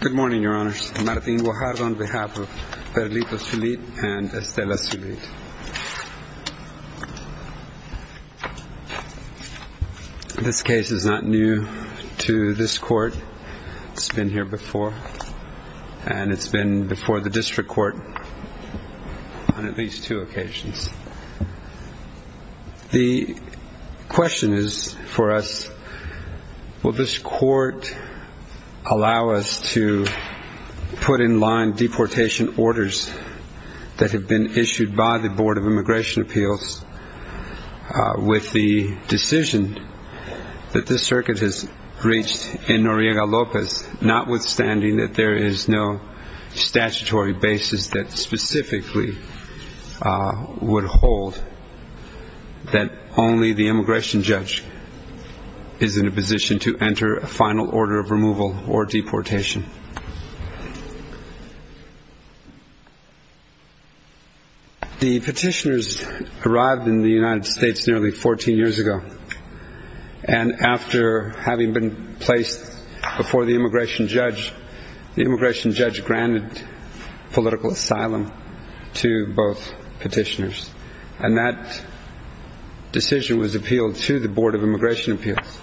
Good morning, Your Honors. I'm Martín Guajardo on behalf of Berlito Sulit and Estela Sulit. This case is not new to this court. It's been here before, and it's been before the District Court on at least two occasions. The question is for us, will this court allow us to put in line deportation orders that have been issued by the Board of Immigration Appeals with the decision that this circuit has reached in Noriega-López, notwithstanding that there is no statutory basis that specifically would hold that only the immigration judge is in a position to enter a final order of removal or deportation. The petitioners arrived in the United States nearly 14 years ago, and after having been placed before the immigration judge, the immigration judge granted political asylum to both petitioners, and that decision was appealed to the Board of Immigration Appeals.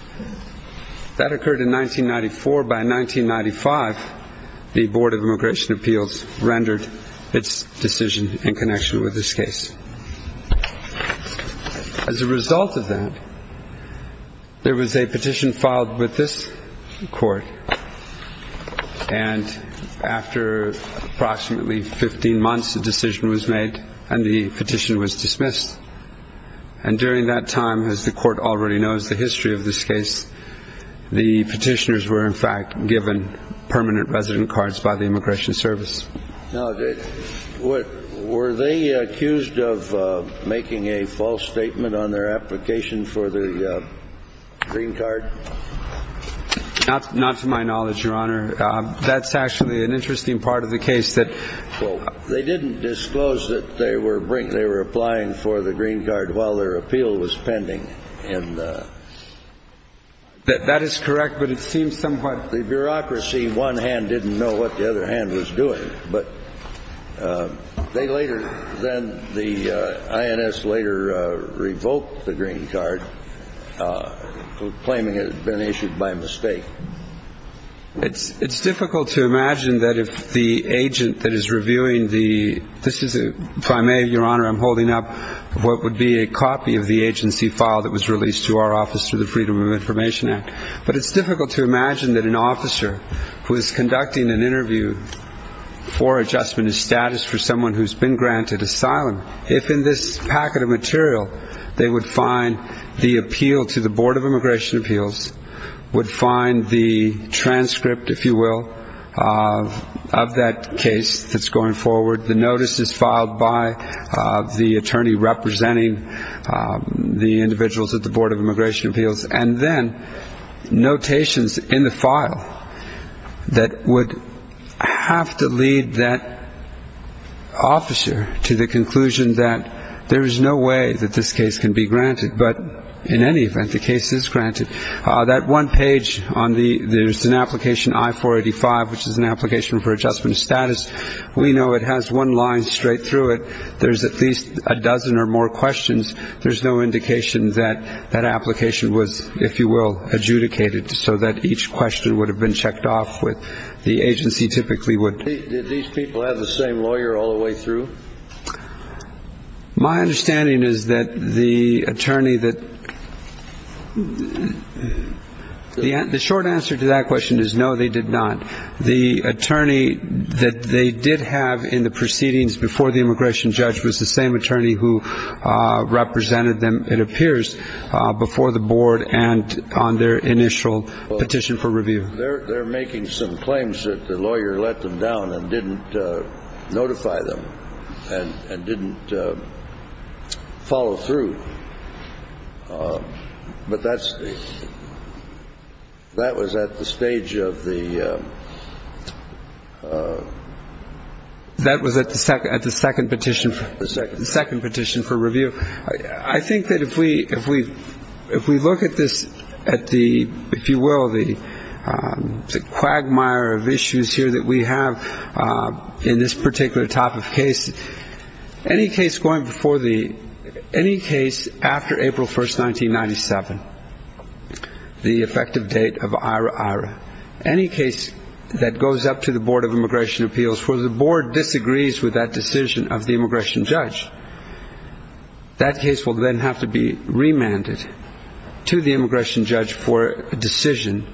That occurred in 1994. By 1995, the Board of Immigration Appeals rendered its decision in connection with this case. As a result of that, there was a petition filed with this court, and after approximately 15 months, a decision was made, and the petition was dismissed. And during that time, as the court already knows the history of this case, the petitioners were in fact given permanent resident cards by the Immigration Service. Now, were they accused of making a false statement on their application for the green card? Not to my knowledge, Your Honor. That's actually an interesting part of the case. They didn't disclose that they were applying for the green card while their appeal was pending. That is correct, but it seems somewhat. The bureaucracy, one hand, didn't know what the other hand was doing. But they later, then the INS later revoked the green card, claiming it had been issued by mistake. It's difficult to imagine that if the agent that is reviewing the, this is, if I may, Your Honor, I'm holding up what would be a copy of the agency file that was released to our office through the Freedom of Information Act. But it's difficult to imagine that an officer who is conducting an interview for adjustment of status for someone who's been granted asylum, if in this packet of material they would find the appeal to the Board of Immigration Appeals, would find the transcript, if you will, of that case that's going forward, the notices filed by the attorney representing the individuals at the Board of Immigration Appeals, and then notations in the file that would have to lead that officer to the conclusion that there is no way that this case can be granted. But in any event, the case is granted. That one page on the, there's an application, I-485, which is an application for adjustment of status. We know it has one line straight through it. There's at least a dozen or more questions. There's no indication that that application was, if you will, adjudicated so that each question would have been checked off with the agency typically would. Did these people have the same lawyer all the way through? My understanding is that the attorney that, the short answer to that question is no, they did not. The attorney that they did have in the proceedings before the immigration judge was the same attorney who represented them, it appears, before the board and on their initial petition for review. They're making some claims that the lawyer let them down and didn't notify them and didn't follow through. But that's the, that was at the stage of the- That was at the second petition for review. I think that if we look at this, at the, if you will, the quagmire of issues here that we have in this particular type of case, any case going before the, any case after April 1st, 1997, the effective date of IRA-IRA, any case that goes up to the Board of Immigration Appeals where the board disagrees with that decision of the immigration judge, that case will then have to be remanded to the immigration judge for a decision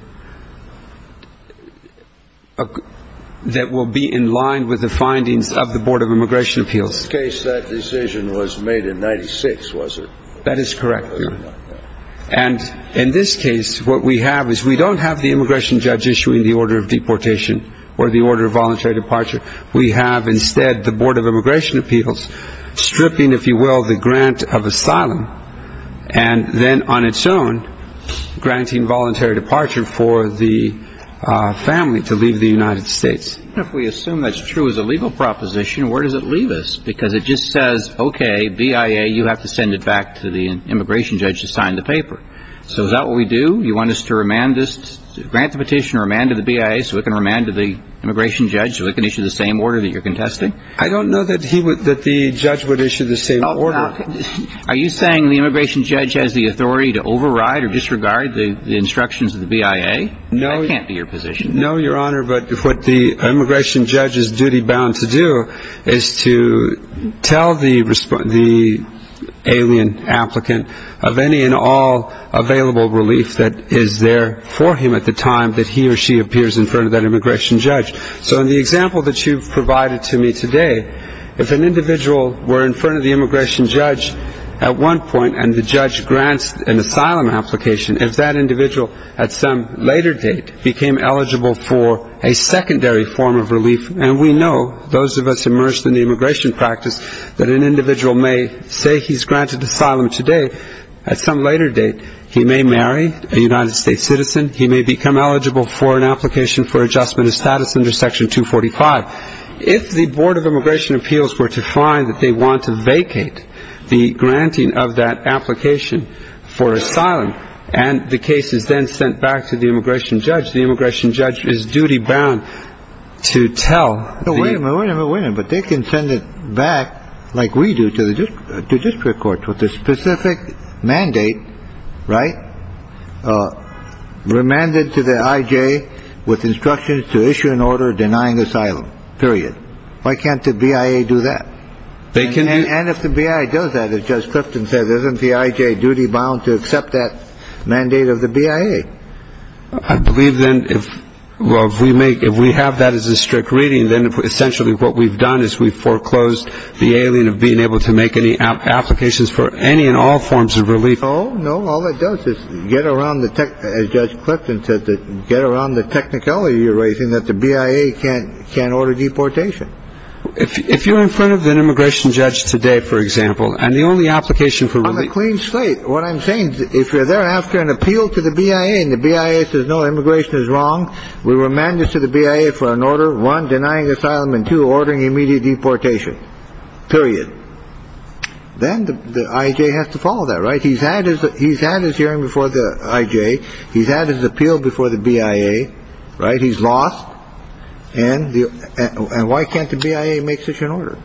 that will be in line with the findings of the Board of Immigration Appeals. In this case, that decision was made in 1996, was it? That is correct, Your Honor. And in this case, what we have is we don't have the immigration judge issuing the order of deportation or the order of voluntary departure. We have instead the Board of Immigration Appeals stripping, if you will, the grant of asylum and then on its own granting voluntary departure for the family to leave the United States. Even if we assume that's true as a legal proposition, where does it leave us? Because it just says, okay, BIA, you have to send it back to the immigration judge to sign the paper. So is that what we do? You want us to remand this, grant the petition or remand to the BIA so it can remand to the immigration judge so it can issue the same order that you're contesting? I don't know that he would, that the judge would issue the same order. Are you saying the immigration judge has the authority to override or disregard the instructions of the BIA? No. That can't be your position. No, Your Honor, but what the immigration judge's duty bound to do is to tell the alien applicant of any and all available relief that is there for him at the time that he or she appears in front of that immigration judge. So in the example that you've provided to me today, if an individual were in front of the immigration judge at one point and the judge grants an asylum application, if that individual at some later date became eligible for a secondary form of relief, and we know, those of us immersed in the immigration practice, that an individual may say he's granted asylum today. At some later date, he may marry a United States citizen. He may become eligible for an application for adjustment of status under Section 245. If the Board of Immigration Appeals were to find that they want to vacate the granting of that application for asylum and the case is then sent back to the immigration judge, the immigration judge is duty bound to tell. No, wait a minute, wait a minute, wait a minute. But they can send it back like we do to the district courts with a specific mandate, right? Remanded to the I.J. with instructions to issue an order denying asylum, period. Why can't the B.I.A. do that? They can. And if the B.I.A. does that, as Judge Clifton said, isn't the I.J. duty bound to accept that mandate of the B.I.A.? I believe then if we have that as a strict reading, then essentially what we've done is we've foreclosed the ailing of being able to make any applications for any and all forms of relief. Oh, no, all it does is get around, as Judge Clifton said, get around the technicality you're raising that the B.I.A. can't order deportation. If you're in front of an immigration judge today, for example, and the only application for relief… On a clean slate. What I'm saying is if you're there after an appeal to the B.I.A. and the B.I.A. says no, immigration is wrong, we remand this to the B.I.A. for an order, one, denying asylum, and two, ordering immediate deportation, period. Then the I.J. has to follow that, right? He's had his hearing before the I.J. He's had his appeal before the B.I.A., right? He's lost. And why can't the B.I.A. make such an order?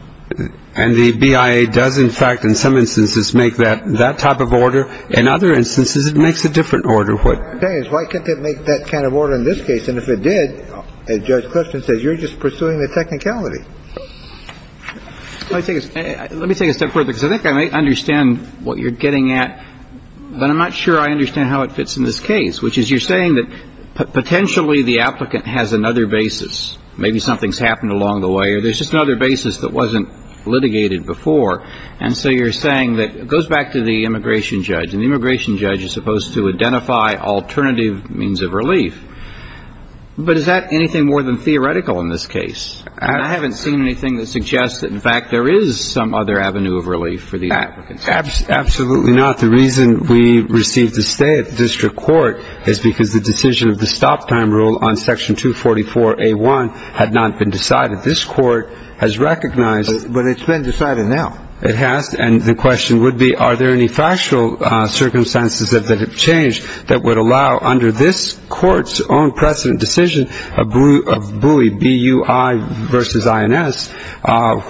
And the B.I.A. does, in fact, in some instances, make that type of order. In other instances, it makes a different order. What I'm saying is why can't it make that kind of order in this case? And if it did, as Judge Clifton said, you're just pursuing the technicality. Let me take a step further, because I think I understand what you're getting at, but I'm not sure I understand how it fits in this case, which is you're saying that potentially the applicant has another basis. Maybe something's happened along the way, or there's just another basis that wasn't litigated before. And so you're saying that it goes back to the immigration judge, and the immigration judge is supposed to identify alternative means of relief. But is that anything more than theoretical in this case? I haven't seen anything that suggests that, in fact, there is some other avenue of relief for the applicants. Absolutely not. The reason we received a stay at the district court is because the decision of the stop time rule on Section 244A.1 had not been decided. This court has recognized. But it's been decided now. It has. And the question would be are there any factual circumstances that have changed that would allow, under this court's own precedent decision of BUI, B-U-I versus I-N-S,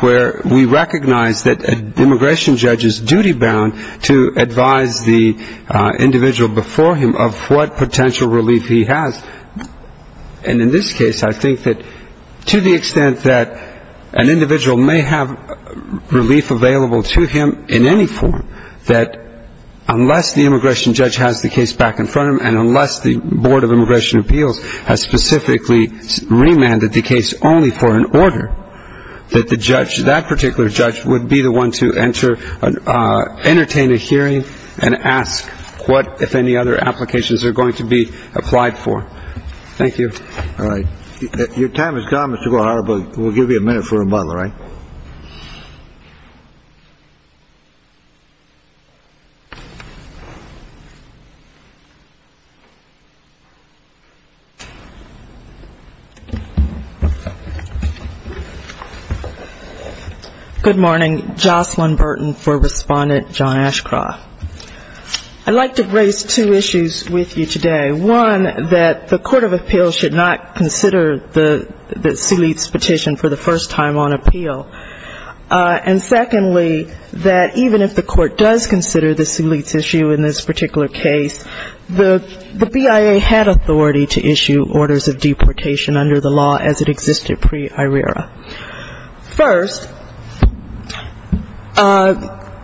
where we recognize that an immigration judge is duty bound to advise the individual before him of what potential relief he has. And in this case, I think that to the extent that an individual may have relief available to him in any form, that unless the immigration judge has the case back in front of him, and unless the Board of Immigration Appeals has specifically remanded the case only for an order, that the judge, that particular judge, would be the one to entertain a hearing and ask what, if any, other applications are going to be applied for. Thank you. All right. Your time is gone, Mr. Guhara, but we'll give you a minute for rebuttal, all right? Good morning. Jocelyn Burton for Respondent John Ashcroft. I'd like to raise two issues with you today. One, that the Court of Appeals should not consider the Seelitz petition for the first time on appeal. And secondly, that even if the Court does consider the Seelitz issue in this particular case, the BIA had authority to issue orders of deportation under the law as it existed pre-IRERA. First,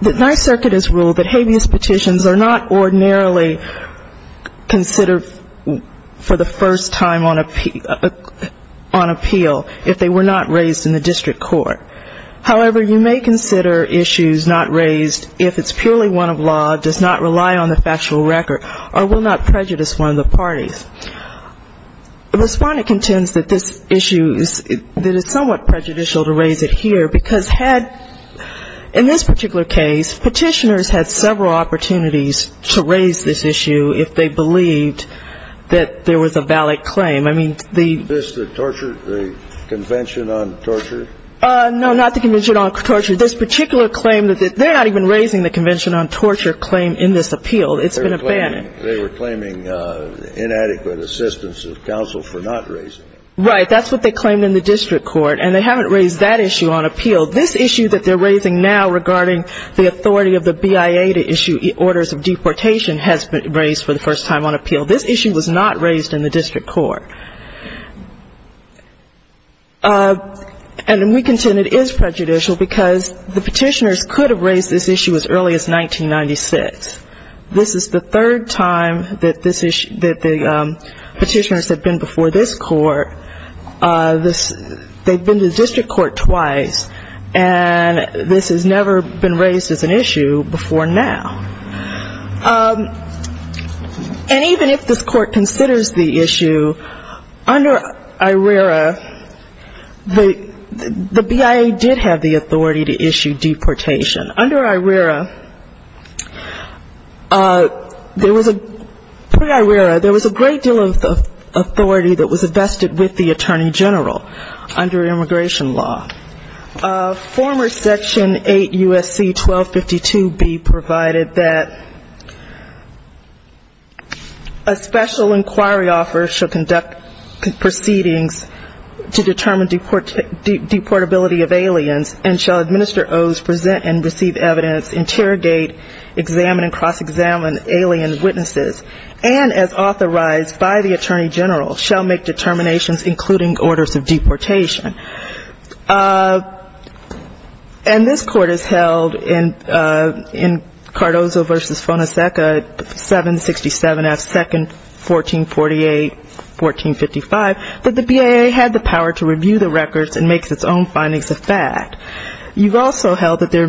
the Ninth Circuit has ruled that habeas petitions are not ordinarily considered for the first time on appeal if they were not raised in the district court. However, you may consider issues not raised if it's purely one of law, does not rely on the factual record, or will not prejudice one of the parties. The Respondent contends that this issue is somewhat prejudicial to raise it here, because had, in this particular case, petitioners had several opportunities to raise this issue if they believed that there was a valid claim. I mean, the — Is this the torture, the Convention on Torture? No, not the Convention on Torture. This particular claim, they're not even raising the Convention on Torture claim in this appeal. It's been abandoned. They were claiming inadequate assistance of counsel for not raising it. Right. That's what they claimed in the district court, and they haven't raised that issue on appeal. This issue that they're raising now regarding the authority of the BIA to issue orders of deportation has been raised for the first time on appeal. This issue was not raised in the district court. And we contend it is prejudicial because the petitioners could have raised this issue as early as 1996. This is the third time that the petitioners have been before this court. They've been to the district court twice, and this has never been raised as an issue before now. And even if this court considers the issue, under IRERA, the BIA did have the authority to issue deportation. Under IRERA, there was a great deal of authority that was vested with the attorney general under immigration law. Former Section 8 U.S.C. 1252B provided that a special inquiry offer shall conduct proceedings to determine deportability of aliens and shall administer oaths, present and receive evidence, interrogate, examine and cross-examine alien witnesses, and as authorized by the attorney general, shall make determinations including orders of deportation. And this court has held in Cardozo v. Fonaseca 767 F. 2nd, 1448-1455, that the BIA had the power to review the records and make its own findings of fact. You've also held that there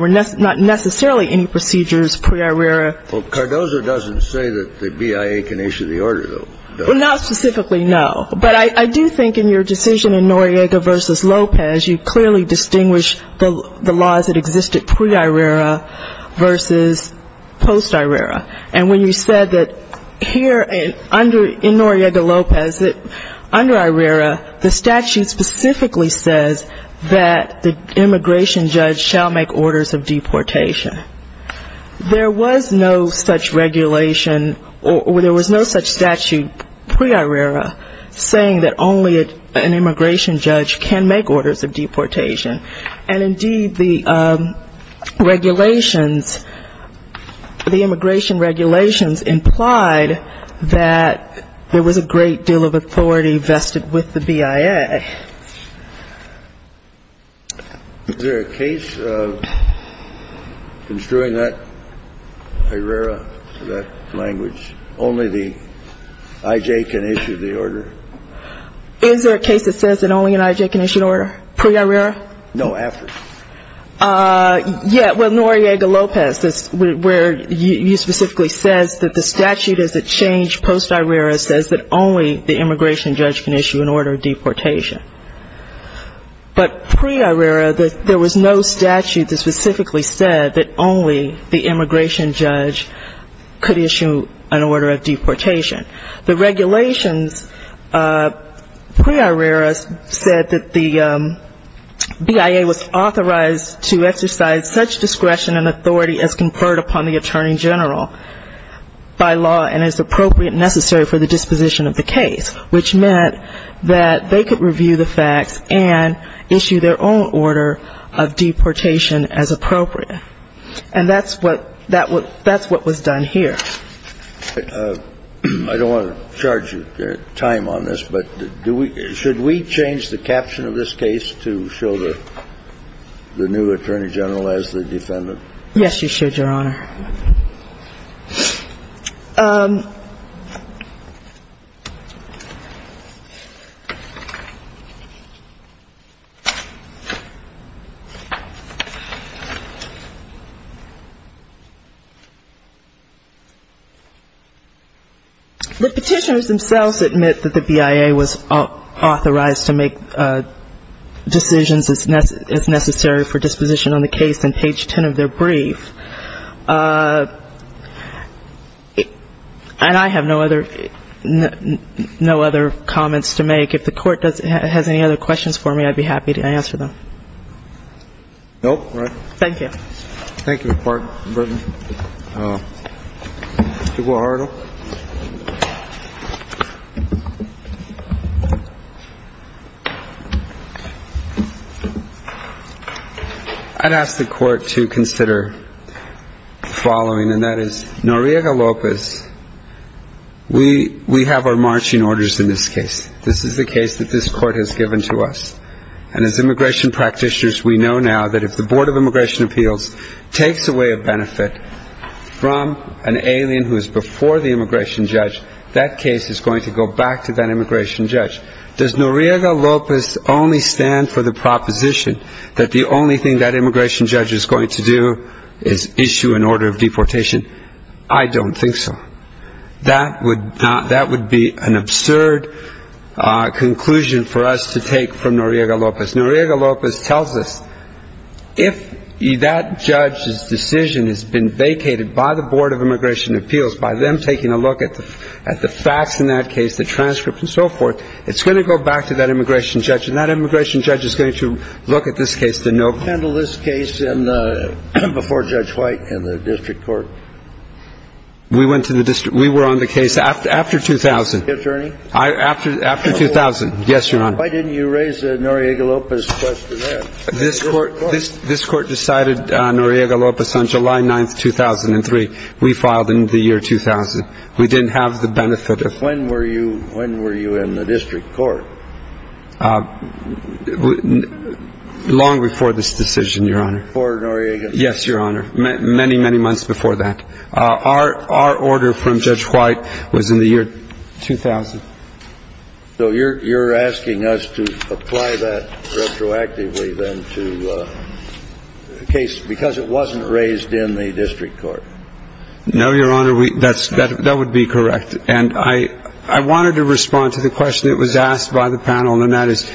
were not necessarily any procedures pre-IRERA. Well, Cardozo doesn't say that the BIA can issue the order, though. Well, not specifically, no. But I do think in your decision in Noriega v. Lopez, you clearly distinguished the laws that existed pre-IRERA v. post-IRERA. And when you said that here under IRERA, the statute specifically says that the immigration judge shall make orders of deportation. There was no such regulation or there was no such statute pre-IRERA saying that only an immigration judge can make orders of deportation. And indeed, the regulations, the immigration regulations implied that there was a great deal of authority vested with the BIA. Is there a case of construing that IRERA, that language, only the I.J. can issue the order? Is there a case that says that only an I.J. can issue an order pre-IRERA? No, after. Yeah, well, Noriega v. Lopez, where you specifically says that the statute is a change post-IRERA says that only the immigration judge can issue an order of deportation. But pre-IRERA, there was no statute that specifically said that only the immigration judge could issue an order of deportation. The regulations pre-IRERA said that the BIA was authorized to exercise such discretion and authority as conferred upon the attorney general by law and as appropriate and necessary for the disposition of the case, which meant that they could review the facts and issue their own order of deportation as appropriate. And that's what was done here. I don't want to charge you time on this, but should we change the caption of this case to show the new attorney general as the defendant? Yes, you should, Your Honor. The petitioners themselves admit that the BIA was authorized to make decisions as necessary for disposition on the case in page 10 of their brief. And I have no other comments to make. If the Court has any other questions for me, I'd be happy to answer them. Nope. Thank you. Thank you, Mr. Burton. Mr. Guajardo. I'd ask the Court to consider the following, and that is, Noriega-Lopez, we have our marching orders in this case. This is the case that this Court has given to us. And as immigration practitioners, we know now that if the Board of Immigration Appeals takes away a benefit from an alien who is before the immigration judge, that case is going to go back to that immigration judge. Does Noriega-Lopez only stand for the proposition that the only thing that immigration judge is going to do is issue an order of deportation? I don't think so. That would be an absurd conclusion for us to take from Noriega-Lopez. Noriega-Lopez tells us if that judge's decision has been vacated by the Board of Immigration Appeals, by them taking a look at the facts in that case, the transcript and so forth, it's going to go back to that immigration judge. And that immigration judge is going to look at this case to know. How did you handle this case before Judge White and the district court? We went to the district. We were on the case after 2000. After 2000. Yes, Your Honor. Why didn't you raise Noriega-Lopez's question then? This court decided Noriega-Lopez on July 9th, 2003. We filed in the year 2000. We didn't have the benefit of. When were you in the district court? Long before this decision, Your Honor. Before Noriega-Lopez. Yes, Your Honor. Many, many months before that. Our order from Judge White was in the year 2000. So you're asking us to apply that retroactively then to the case because it wasn't raised in the district court? No, Your Honor. That would be correct. And I wanted to respond to the question that was asked by the panel, and that is,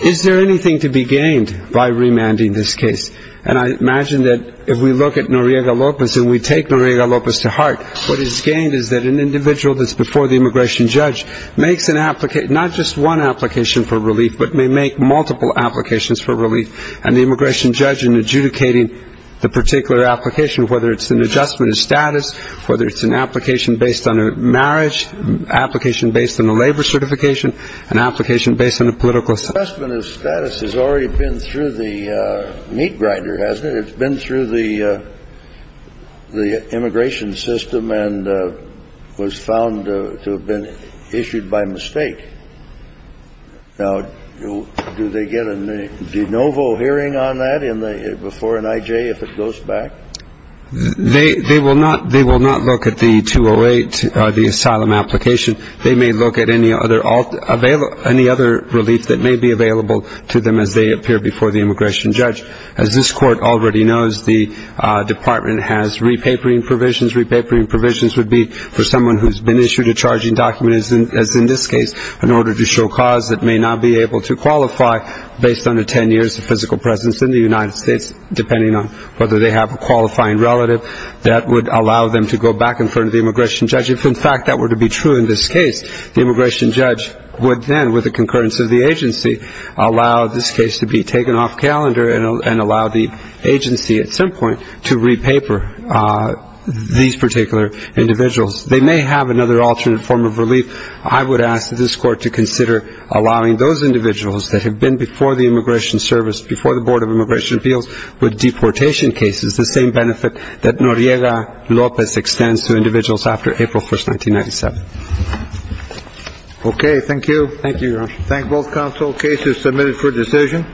is there anything to be gained by remanding this case? And I imagine that if we look at Noriega-Lopez and we take Noriega-Lopez to heart, what is gained is that an individual that's before the immigration judge makes an application, not just one application for relief, but may make multiple applications for relief. And the immigration judge in adjudicating the particular application, whether it's an adjustment of status, whether it's an application based on a marriage, application based on a labor certification, an application based on a political. Adjustment of status has already been through the meat grinder, hasn't it? It's been through the immigration system and was found to have been issued by mistake. Now, do they get a de novo hearing on that before an IJ if it goes back? They will not look at the 208, the asylum application. They may look at any other relief that may be available to them as they appear before the immigration judge. As this court already knows, the department has repapering provisions. Repapering provisions would be for someone who's been issued a charging document, as in this case, in order to show cause that may not be able to qualify based on the 10 years of physical presence in the United States, depending on whether they have a qualifying relative that would allow them to go back in front of the immigration judge. If, in fact, that were to be true in this case, the immigration judge would then, with the concurrence of the agency, allow this case to be taken off calendar and allow the agency at some point to re-paper these particular individuals. They may have another alternate form of relief. I would ask that this court to consider allowing those individuals that have been before the Immigration Service, before the Board of Immigration Appeals, with deportation cases, the same benefit that Noriega-Lopez extends to individuals after April 1, 1997. Okay. Thank you. Thank you, Your Honor. Thank both counsel. Case is submitted for decision.